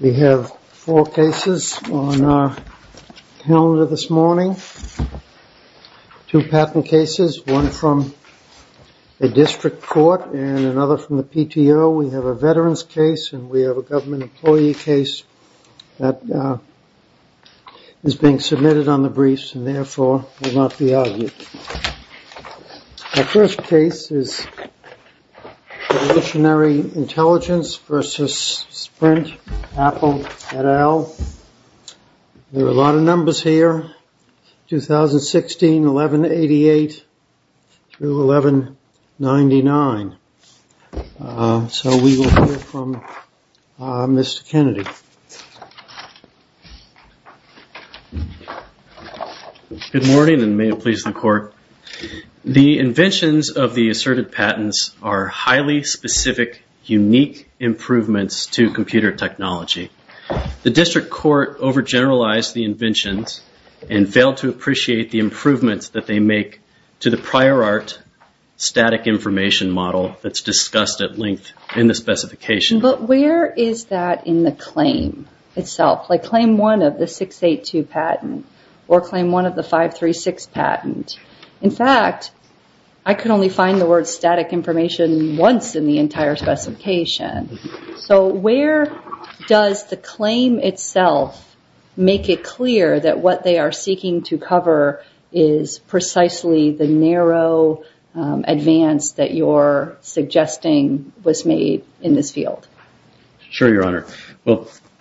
We have four cases on our calendar this morning. Two patent cases, one from a district court and another from the PTO. We have a veteran's case and we have a government employee case that is being submitted on the briefs and therefore will not be argued. Our first case is evolutionary intelligence versus Sprint, Apple, et al. There are a lot of numbers here. 2016, 1188 through 1199. So we will hear from Mr. Kennedy. Good morning and may it please the court. The inventions of the asserted patents are highly specific, unique improvements to computer technology. The district court over-generalized the inventions and failed to appreciate the improvements that they make to the prior art static information model that's discussed at length in the specification. But where is that in the claim itself? Like claim one of the 682 patent or claim one of the 536 patent. In fact, I could only find the word static information once in the entire specification. So where does the claim itself make it clear that what they are seeking to cover is precisely the narrow advance that you are suggesting was made in this field? Sure, Your Honor.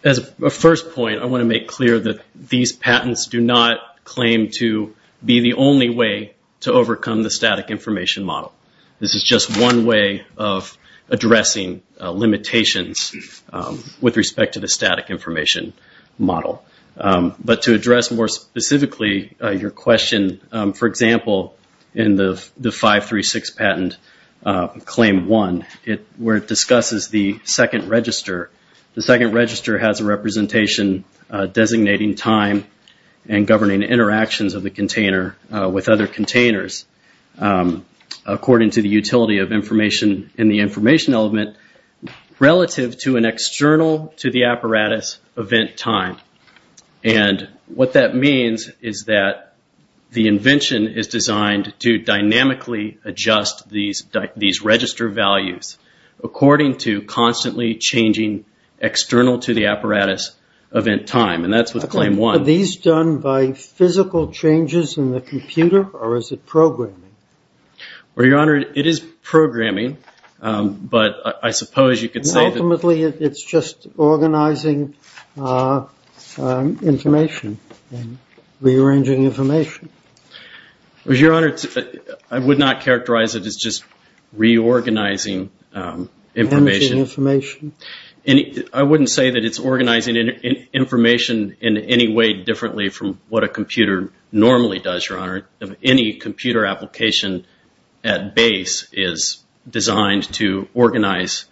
As a first point, I want to make clear that these patents do not claim to be the only way to overcome the static information model. This is just one way of addressing limitations with respect to the static information model. But to address more specifically your question, for example, in the 536 patent claim one, where it discusses the second register. The second register has a representation designating time and governing interactions of the container with other containers. According to the utility of information in the information element, relative to an external-to-the-apparatus event time. And what that means is that the invention is designed to dynamically adjust these register values according to constantly changing external-to-the-apparatus event time. And that's with claim one. Are these done by physical changes in the computer or is it programming? Well, Your Honor, it is programming, but I suppose you could say that... Ultimately, it's just organizing information and rearranging information. Well, Your Honor, I would not characterize it as just reorganizing information. Arranging information. I wouldn't say that it's organizing information in any way differently from what a computer normally does, Your Honor. Any computer application at base is designed to organize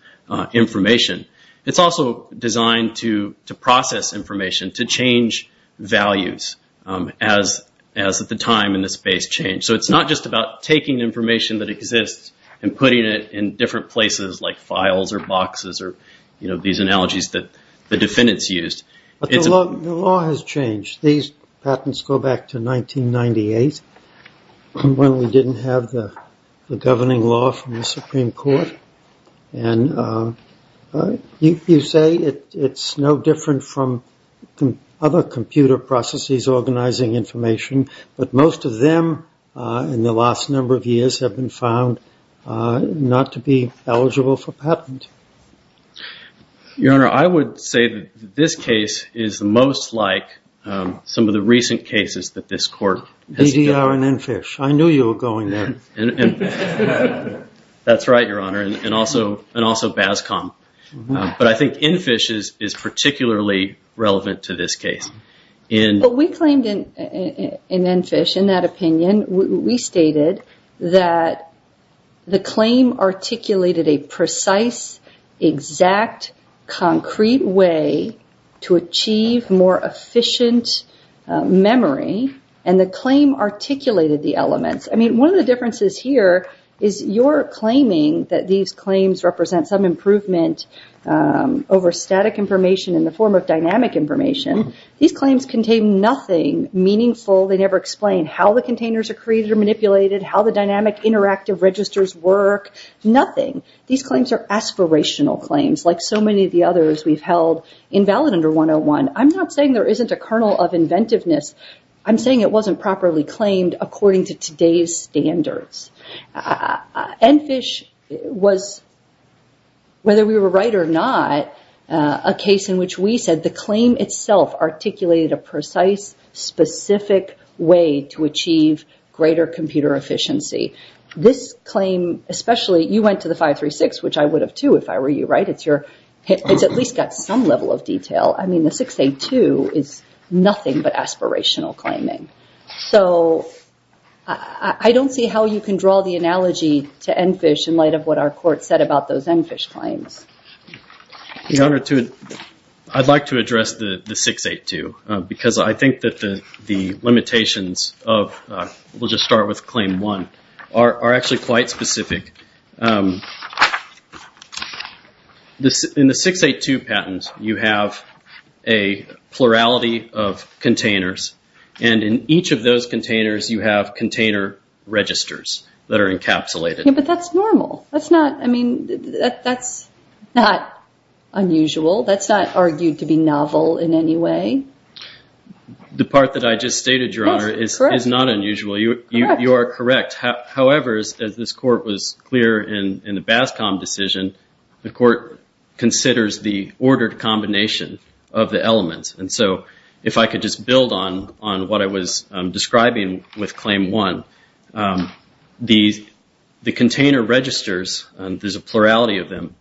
information. It's also designed to process information, to change values as the time and the space change. So it's not just about taking information that exists and putting it in different places, like files or boxes or, you know, these analogies that the defendants used. But the law has changed. These patents go back to 1998 when we didn't have the governing law from the Supreme Court. And you say it's no different from other computer processes organizing information, but most of them in the last number of years have been found not to be eligible for patent. Your Honor, I would say that this case is most like some of the recent cases that this court has done. DDR and EnFish. I knew you were going there. That's right, Your Honor, and also BASCOM. But I think EnFish is particularly relevant to this case. We claimed in EnFish, in that opinion, we stated that the claim articulated a precise, exact, concrete way to achieve more efficient memory, and the claim articulated the elements. I mean, one of the differences here is your claiming that these claims represent some improvement over static information in the form of dynamic information. These claims contain nothing meaningful. They never explain how the containers are created or manipulated, how the dynamic interactive registers work, nothing. These claims are aspirational claims, like so many of the others we've held invalid under 101. I'm not saying there isn't a kernel of inventiveness. I'm saying it wasn't properly claimed according to today's standards. EnFish was, whether we were right or not, a case in which we said the claim itself articulated a precise, specific way to achieve greater computer efficiency. This claim, especially, you went to the 536, which I would have too if I were you, right? It's at least got some level of detail. I mean, the 682 is nothing but aspirational claiming. So I don't see how you can draw the analogy to EnFish in light of what our court said about those EnFish claims. I'd like to address the 682 because I think that the limitations of, we'll just start with claim one, are actually quite specific. In the 682 patent, you have a plurality of containers. And in each of those containers, you have container registers that are encapsulated. But that's normal. That's not, I mean, that's not unusual. That's not argued to be novel in any way. The part that I just stated, Your Honor, is not unusual. You are correct. However, as this court was clear in the BASCOM decision, the court considers the ordered combination of the elements. And so if I could just build on what I was describing with claim one, the container registers, there's a plurality of them,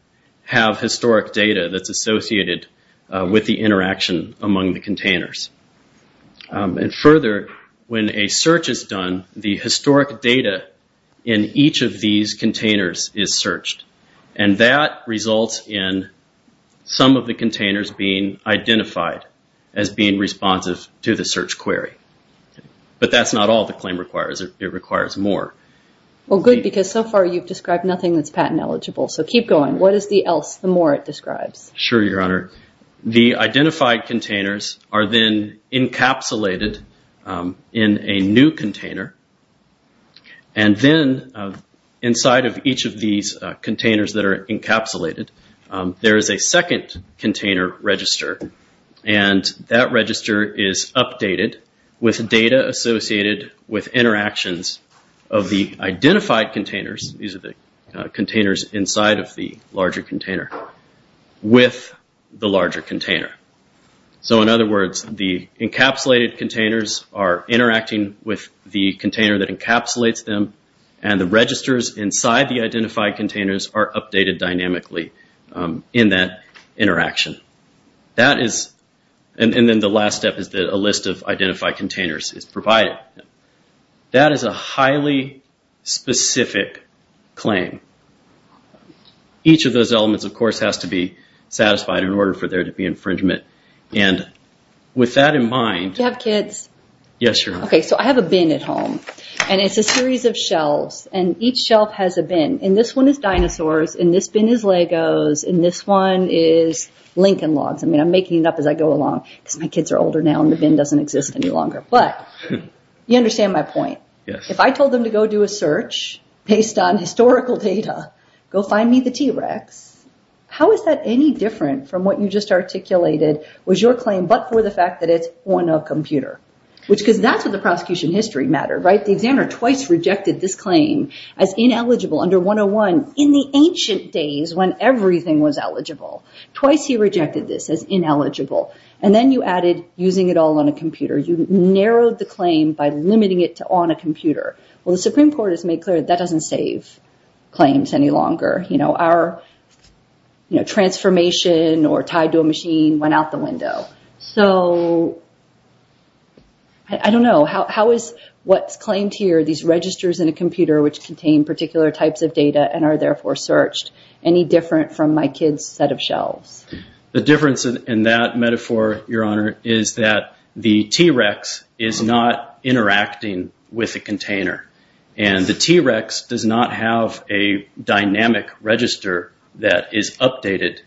have historic data that's associated with the interaction among the containers. And further, when a search is done, the historic data in each of these containers is searched. And that results in some of the containers being identified as being responsive to the search query. But that's not all the claim requires. It requires more. Well, good, because so far you've described nothing that's patent eligible. So keep going. What is the else, the more it describes? Sure, Your Honor. The identified containers are then encapsulated in a new container. And then inside of each of these containers that are encapsulated, there is a second container register. And that register is updated with data associated with interactions of the identified containers, these are the containers inside of the larger container, with the larger container. So in other words, the encapsulated containers are interacting with the container that encapsulates them, and the registers inside the identified containers are updated dynamically in that interaction. And then the last step is that a list of identified containers is provided. But that is a highly specific claim. Each of those elements, of course, has to be satisfied in order for there to be infringement. And with that in mind... Do you have kids? Yes, Your Honor. Okay, so I have a bin at home, and it's a series of shelves. And each shelf has a bin. And this one is dinosaurs, and this bin is Legos, and this one is Lincoln Logs. I mean, I'm making it up as I go along, because my kids are older now, and the bin doesn't exist any longer. But you understand my point. Yes. If I told them to go do a search based on historical data, go find me the T-Rex, how is that any different from what you just articulated was your claim but for the fact that it's on a computer? Because that's what the prosecution history mattered, right? The examiner twice rejected this claim as ineligible under 101 in the ancient days when everything was eligible. Twice he rejected this as ineligible. And then you added using it all on a computer. You narrowed the claim by limiting it to on a computer. Well, the Supreme Court has made clear that that doesn't save claims any longer. Our transformation or tied to a machine went out the window. So I don't know. How is what's claimed here, these registers in a computer which contain particular types of data and are therefore searched, any different from my kids' set of shelves? The difference in that metaphor, Your Honor, is that the T-Rex is not interacting with a container. And the T-Rex does not have a dynamic register that is updated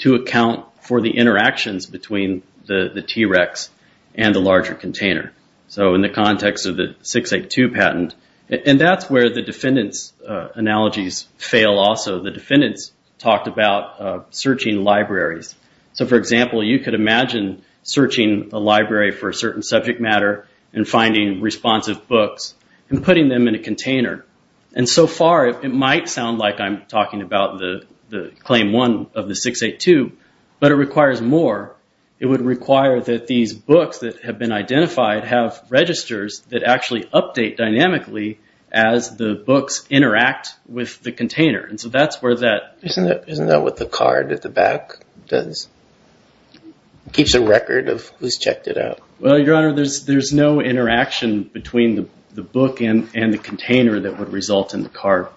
to account for the interactions between the T-Rex and the larger container. So in the context of the 682 patent, and that's where the defendant's analogies fail also. The defendants talked about searching libraries. So, for example, you could imagine searching a library for a certain subject matter and finding responsive books and putting them in a container. And so far it might sound like I'm talking about the Claim 1 of the 682, but it requires more. It would require that these books that have been identified have registers that actually update dynamically as the books interact with the container. And so that's where that... Isn't that what the card at the back does? Keeps a record of who's checked it out. Well, Your Honor, there's no interaction between the book and the container that would result in the card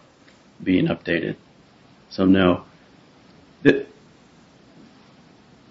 being updated. So no.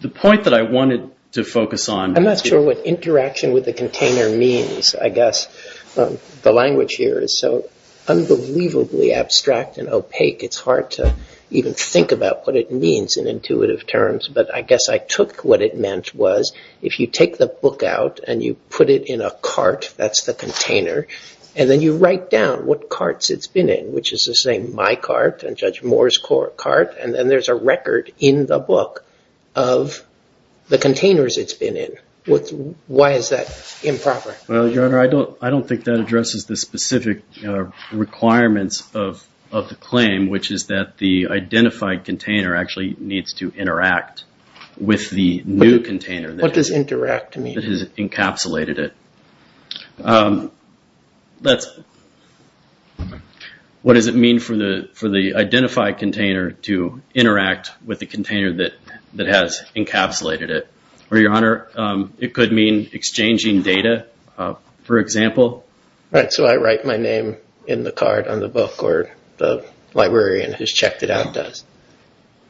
The point that I wanted to focus on... I'm not sure what interaction with the container means, I guess. The language here is so unbelievably abstract and opaque, it's hard to even think about what it means in intuitive terms. But I guess I took what it meant was if you take the book out and you put it in a cart, that's the container, and then you write down what carts it's been in, which is to say my cart and Judge Moore's cart, and then there's a record in the book of the containers it's been in. Why is that improper? Well, Your Honor, I don't think that addresses the specific requirements of the claim, which is that the identified container actually needs to interact with the new container. What does interact mean? That has encapsulated it. What does it mean for the identified container to interact with the container that has encapsulated it? Well, Your Honor, it could mean exchanging data, for example. Right, so I write my name in the card on the book or the librarian who's checked it out does.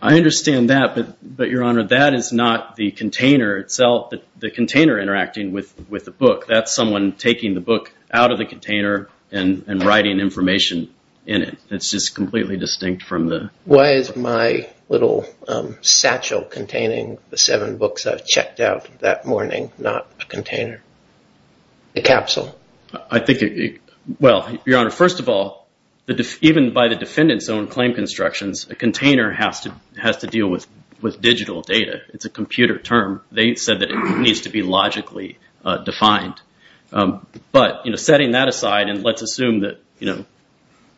I understand that, but Your Honor, that is not the container itself, the container interacting with the book. That's someone taking the book out of the container and writing information in it. It's just completely distinct from the... Why is my little satchel containing the seven books I've checked out that morning not a container, a capsule? I think, well, Your Honor, first of all, even by the defendant's own claim constructions, a container has to deal with digital data. It's a computer term. They said that it needs to be logically defined. But setting that aside and let's assume that,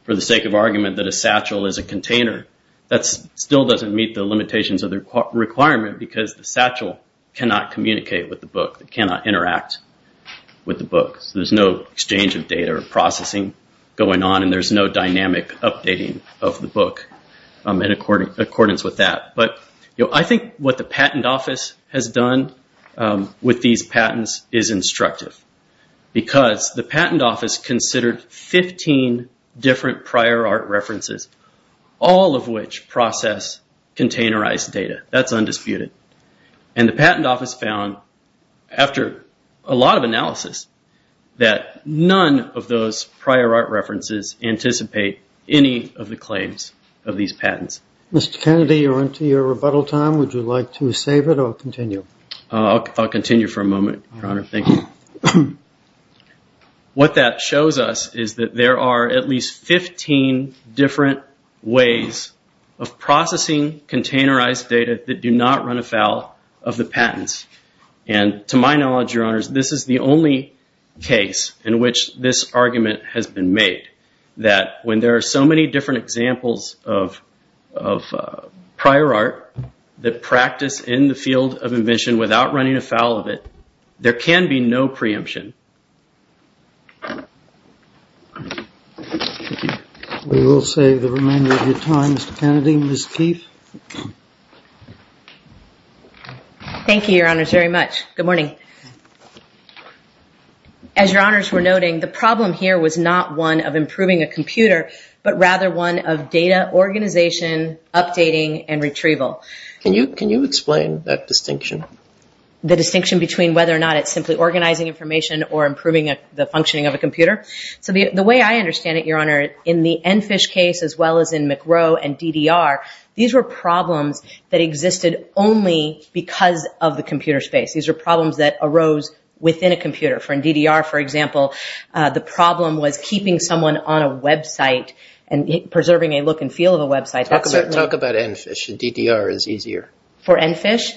for the sake of argument, that a satchel is a container, that still doesn't meet the limitations of the requirement because the satchel cannot communicate with the book. It cannot interact with the book. There's no exchange of data or processing going on, and there's no dynamic updating of the book in accordance with that. But I think what the Patent Office has done with these patents is instructive because the Patent Office considered 15 different prior art references, all of which process containerized data. That's undisputed. And the Patent Office found, after a lot of analysis, that none of those prior art references anticipate any of the claims of these patents. Mr. Kennedy, you're onto your rebuttal time. Would you like to save it or continue? I'll continue for a moment, Your Honor. Thank you. What that shows us is that there are at least 15 different ways of processing containerized data that do not run afoul of the patents. And to my knowledge, Your Honors, this is the only case in which this argument has been made, that when there are so many different examples of prior art that practice in the field of invention without running afoul of it, there can be no preemption. We will save the remainder of your time, Mr. Kennedy and Ms. Keith. Thank you, Your Honors, very much. Good morning. As Your Honors were noting, the problem here was not one of improving a computer, but rather one of data organization, updating, and retrieval. Can you explain that distinction? The distinction between whether or not it's simply organizing information or improving the functioning of a computer? So the way I understand it, Your Honor, in the EnFISH case as well as in McRow and DDR, these were problems that existed only because of the computer space. These were problems that arose within a computer. For DDR, for example, the problem was keeping someone on a website and preserving a look and feel of a website. Talk about EnFISH. DDR is easier. For EnFISH,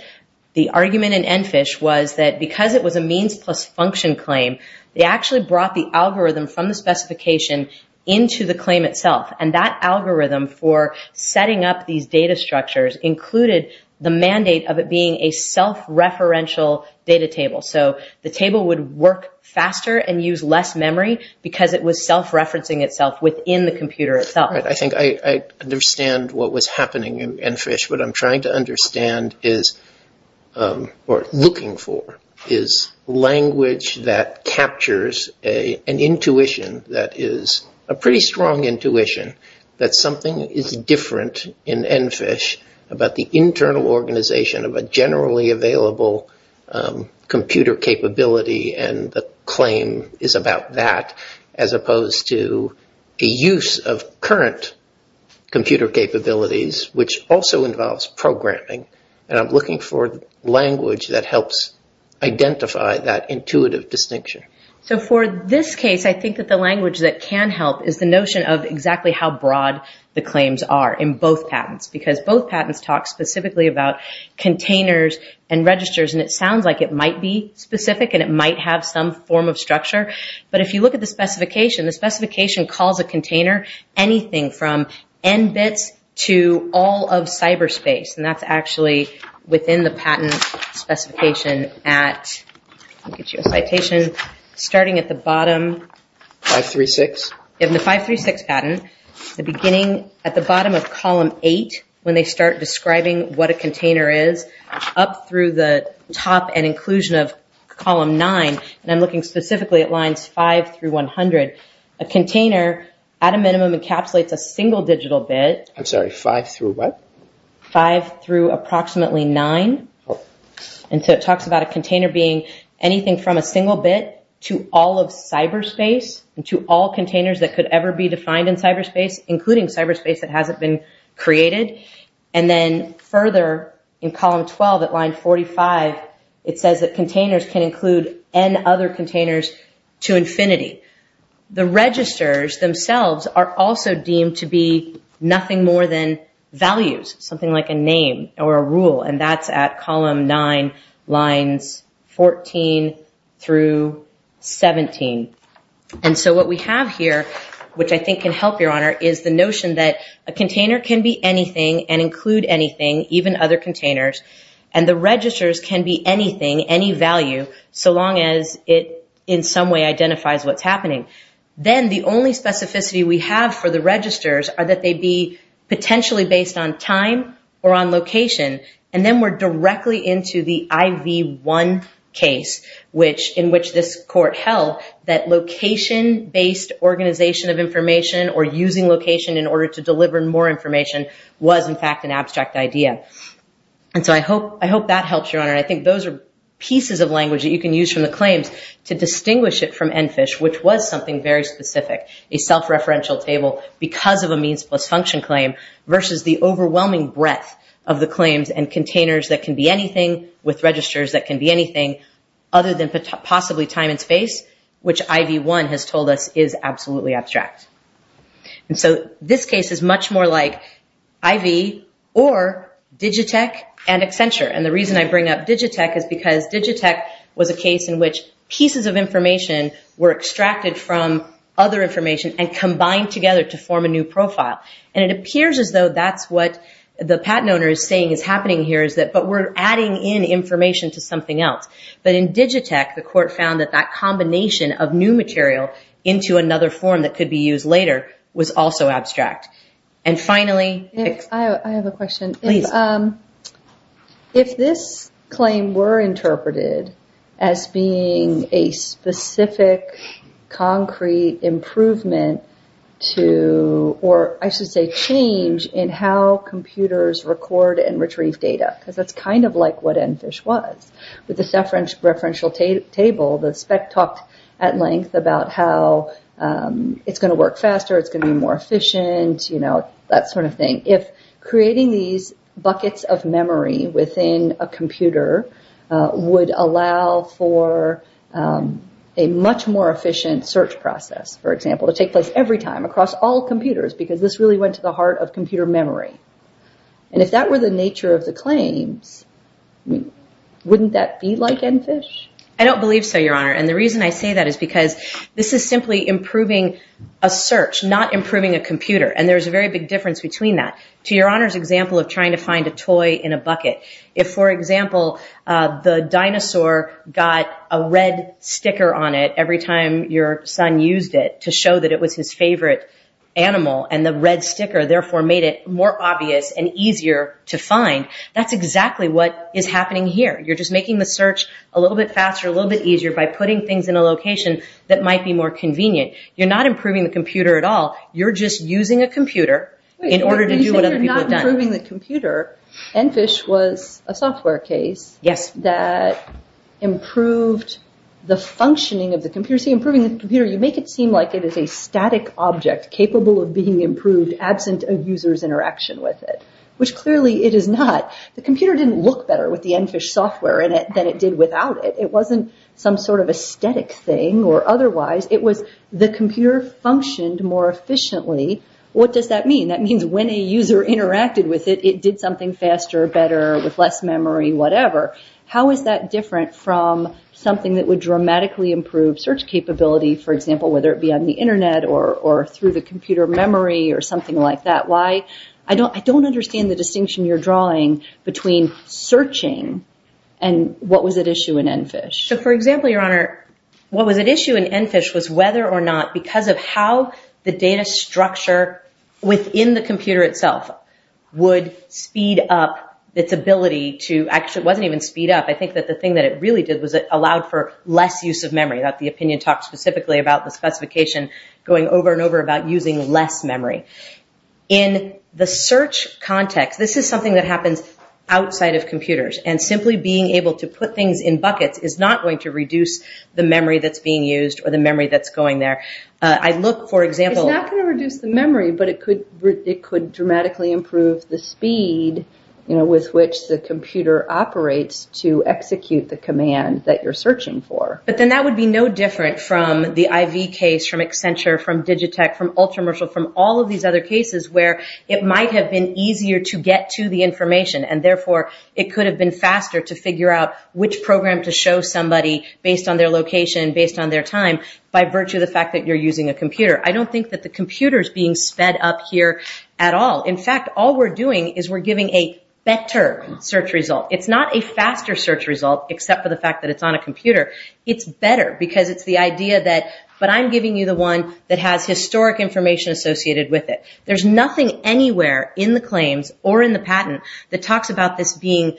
the argument in EnFISH was that because it was a means plus function claim, they actually brought the algorithm from the specification into the claim itself. And that algorithm for setting up these data structures included the mandate of it being a self-referential data table. So the table would work faster and use less memory because it was self-referencing itself within the computer itself. I think I understand what was happening in EnFISH. What I'm trying to understand is, or looking for, is language that captures an intuition that is a pretty strong intuition that something is different in EnFISH about the internal organization of a generally available computer capability and the claim is about that as opposed to a use of current computer capabilities, which also involves programming. And I'm looking for language that helps identify that intuitive distinction. So for this case, I think that the language that can help is the notion of exactly how broad the claims are in both patents because both patents talk specifically about containers and registers. And it sounds like it might be specific and it might have some form of structure. But if you look at the specification, the specification calls a container anything from n bits to all of cyberspace. And that's actually within the patent specification at, let me get you a citation, starting at the bottom. 536? In the 536 patent, the beginning, at the bottom of column 8, when they start describing what a container is, up through the top and inclusion of column 9, and I'm looking specifically at lines 5 through 100, a container at a minimum encapsulates a single digital bit. I'm sorry, 5 through what? 5 through approximately 9. And so it talks about a container being anything from a single bit to all of cyberspace and to all containers that could ever be defined in cyberspace, including cyberspace that hasn't been created. And then further in column 12 at line 45, it says that containers can include n other containers to infinity. The registers themselves are also deemed to be nothing more than values, something like a name or a rule, and that's at column 9, lines 14 through 17. And so what we have here, which I think can help, Your Honor, is the notion that a container can be anything and include anything, even other containers, and the registers can be anything, any value, so long as it in some way identifies what's happening. Then the only specificity we have for the registers are that they be potentially based on time or on location, and then we're directly into the IV-1 case in which this court held that location-based organization of information or using location in order to deliver more information was, in fact, an abstract idea. And so I hope that helps, Your Honor, and I think those are pieces of language that you can use from the claims to distinguish it from ENFISH, which was something very specific, a self-referential table because of a means-plus-function claim versus the overwhelming breadth of the claims and containers that can be anything with registers that can be anything other than possibly time and space, which IV-1 has told us is absolutely abstract. And so this case is much more like IV or Digitech and Accenture, and the reason I bring up Digitech is because Digitech was a case in which pieces of information were extracted from other information and combined together to form a new profile, and it appears as though that's what the patent owner is saying is happening here, but we're adding in information to something else. But in Digitech, the court found that that combination of new material into another form that could be used later was also abstract. And finally... I have a question. Please. If this claim were interpreted as being a specific, concrete improvement to, or I should say change in how computers record and retrieve data, because that's kind of like what ENFISH was. With the self-referential table, the spec talked at length about how it's going to work faster, it's going to be more efficient, that sort of thing. If creating these buckets of memory within a computer would allow for a much more efficient search process, for example, to take place every time across all computers, because this really went to the heart of computer memory. And if that were the nature of the claims, wouldn't that be like ENFISH? I don't believe so, Your Honor, and the reason I say that is because this is simply improving a search, not improving a computer, and there's a very big difference between that. To Your Honor's example of trying to find a toy in a bucket, if, for example, the dinosaur got a red sticker on it every time your son used it to show that it was his favorite animal, and the red sticker therefore made it more obvious and easier to find, that's exactly what is happening here. You're just making the search a little bit faster, a little bit easier, by putting things in a location that might be more convenient. You're not improving the computer at all. You're just using a computer in order to do what other people have done. Wait, you say you're not improving the computer. ENFISH was a software case that improved the functioning of the computer. See, improving the computer, you make it seem like it is a static object capable of being improved absent a user's interaction with it, which clearly it is not. The computer didn't look better with the ENFISH software in it than it did without it. It wasn't some sort of a static thing or otherwise. It was the computer functioned more efficiently. What does that mean? That means when a user interacted with it, it did something faster, better, with less memory, whatever. How is that different from something that would dramatically improve search capability, for example, whether it be on the Internet or through the computer memory or something like that? I don't understand the distinction you're drawing between searching and what was at issue in ENFISH. For example, Your Honor, what was at issue in ENFISH was whether or not, because of how the data structure within the computer itself would speed up its ability to... Actually, it wasn't even speed up. I think that the thing that it really did was it allowed for less use of memory. The opinion talked specifically about the specification going over and over about using less memory. In the search context, this is something that happens outside of computers, and simply being able to put things in buckets is not going to reduce the memory that's being used or the memory that's going there. I look, for example... It's not going to reduce the memory, but it could dramatically improve the speed with which the computer operates to execute the command that you're searching for. But then that would be no different from the IV case, from Accenture, from Digitech, from Ultramershal, from all of these other cases where it might have been easier to get to the information, and therefore it could have been faster to figure out which program to show somebody based on their location, based on their time, by virtue of the fact that you're using a computer. I don't think that the computer is being sped up here at all. In fact, all we're doing is we're giving a better search result. It's not a faster search result, except for the fact that it's on a computer. It's better because it's the idea that I'm giving you the one that has historic information associated with it. There's nothing anywhere in the claims or in the patent that talks about this being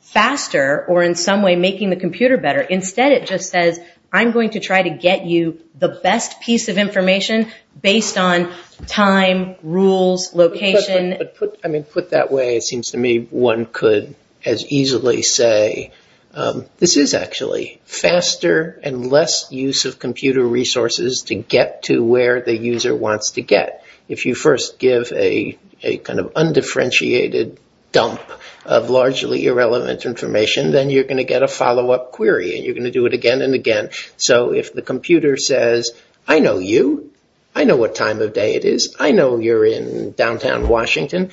faster or in some way making the computer better. Instead, it just says I'm going to try to get you the best piece of information based on time, rules, location. Put that way, it seems to me one could as easily say, this is actually faster and less use of computer resources to get to where the user wants to get. If you first give a kind of undifferentiated dump of largely irrelevant information, then you're going to get a follow-up query, and you're going to do it again and again. If the computer says, I know you, I know what time of day it is, I know you're in downtown Washington.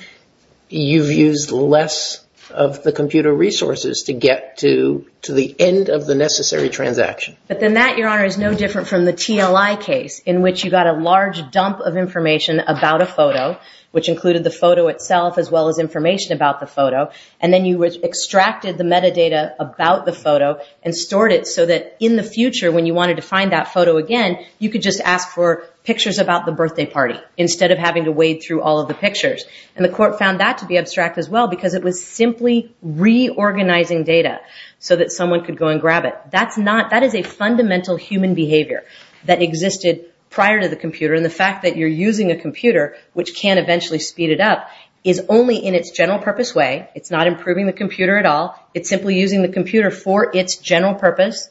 You've used less of the computer resources to get to the end of the necessary transaction. But then that, Your Honor, is no different from the TLI case, in which you got a large dump of information about a photo, which included the photo itself as well as information about the photo. And then you extracted the metadata about the photo and stored it so that in the future, when you wanted to find that photo again, you could just ask for pictures about the birthday party. Instead of having to wade through all of the pictures. And the court found that to be abstract as well, because it was simply reorganizing data so that someone could go and grab it. That is a fundamental human behavior that existed prior to the computer. And the fact that you're using a computer, which can eventually speed it up, is only in its general purpose way. It's not improving the computer at all. It's simply using the computer for its general purpose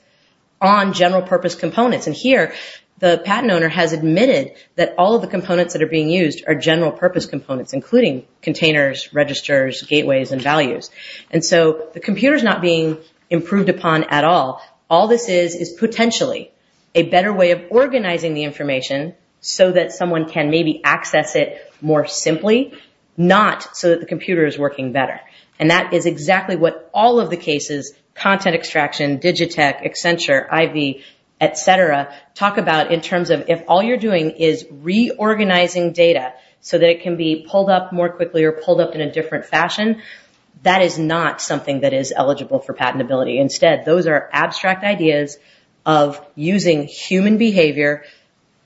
on general purpose components. And here, the patent owner has admitted that all of the components that are being used are general purpose components, including containers, registers, gateways, and values. And so the computer's not being improved upon at all. All this is is potentially a better way of organizing the information so that someone can maybe access it more simply, not so that the computer is working better. And that is exactly what all of the cases, content extraction, Digitech, Accenture, IV, et cetera, talk about in terms of if all you're doing is reorganizing data so that it can be pulled up more quickly or pulled up in a different fashion, that is not something that is eligible for patentability. Instead, those are abstract ideas of using human behavior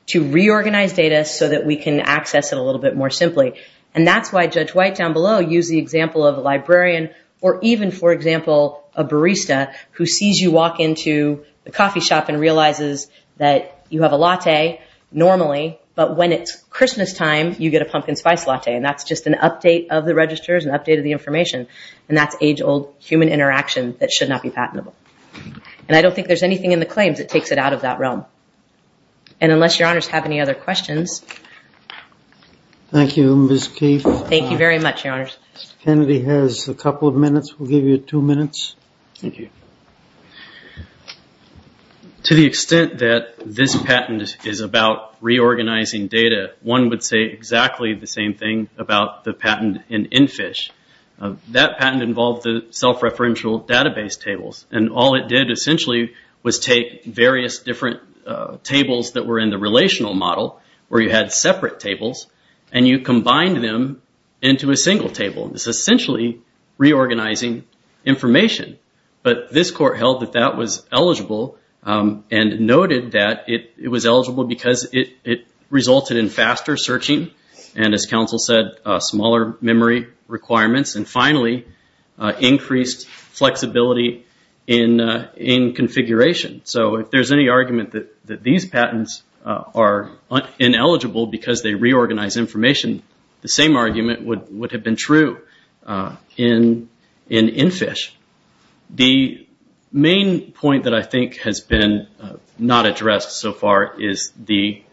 to reorganize data so that we can access it a little bit more simply. And that's why Judge White down below used the example of a librarian or even, for example, a barista who sees you walk into a coffee shop and realizes that you have a latte normally, but when it's Christmas time, you get a pumpkin spice latte. And that's just an update of the registers and update of the information. And that's age-old human interaction that should not be patentable. And I don't think there's anything in the claims that takes it out of that realm. And unless Your Honors have any other questions. Thank you, Ms. Keefe. Thank you very much, Your Honors. Mr. Kennedy has a couple of minutes. We'll give you two minutes. Thank you. To the extent that this patent is about reorganizing data, one would say exactly the same thing about the patent in NFISH. That patent involved the self-referential database tables, and all it did essentially was take various different tables that were in the relational model where you had separate tables, and you combined them into a single table. It's essentially reorganizing information. But this court held that that was eligible and noted that it was eligible because it resulted in faster searching and, as counsel said, smaller memory requirements, and finally increased flexibility in configuration. So if there's any argument that these patents are ineligible because they reorganize information, the same argument would have been true in NFISH. The main point that I think has been not addressed so far is the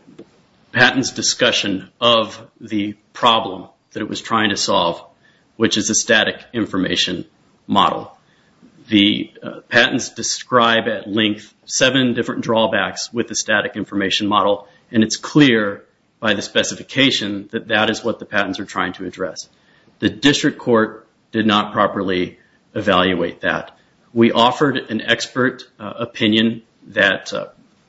patent's discussion of the problem that it was trying to solve, which is a static information model. The patents describe at length seven different drawbacks with the static information model, and it's clear by the specification that that is what the patents are trying to address. The district court did not properly evaluate that. We offered an expert opinion that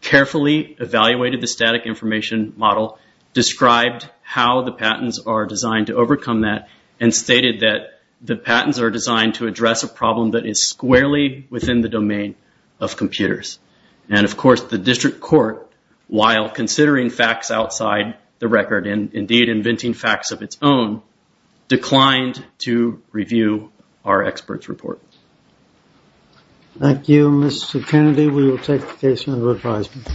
carefully evaluated the static information model, described how the patents are designed to overcome that, and stated that the patents are designed to address a problem that is squarely within the domain of computers. And, of course, the district court, while considering facts outside the record and, indeed, inventing facts of its own, declined to review our experts' report. Thank you, Mr. Kennedy. We will take the case under advisement.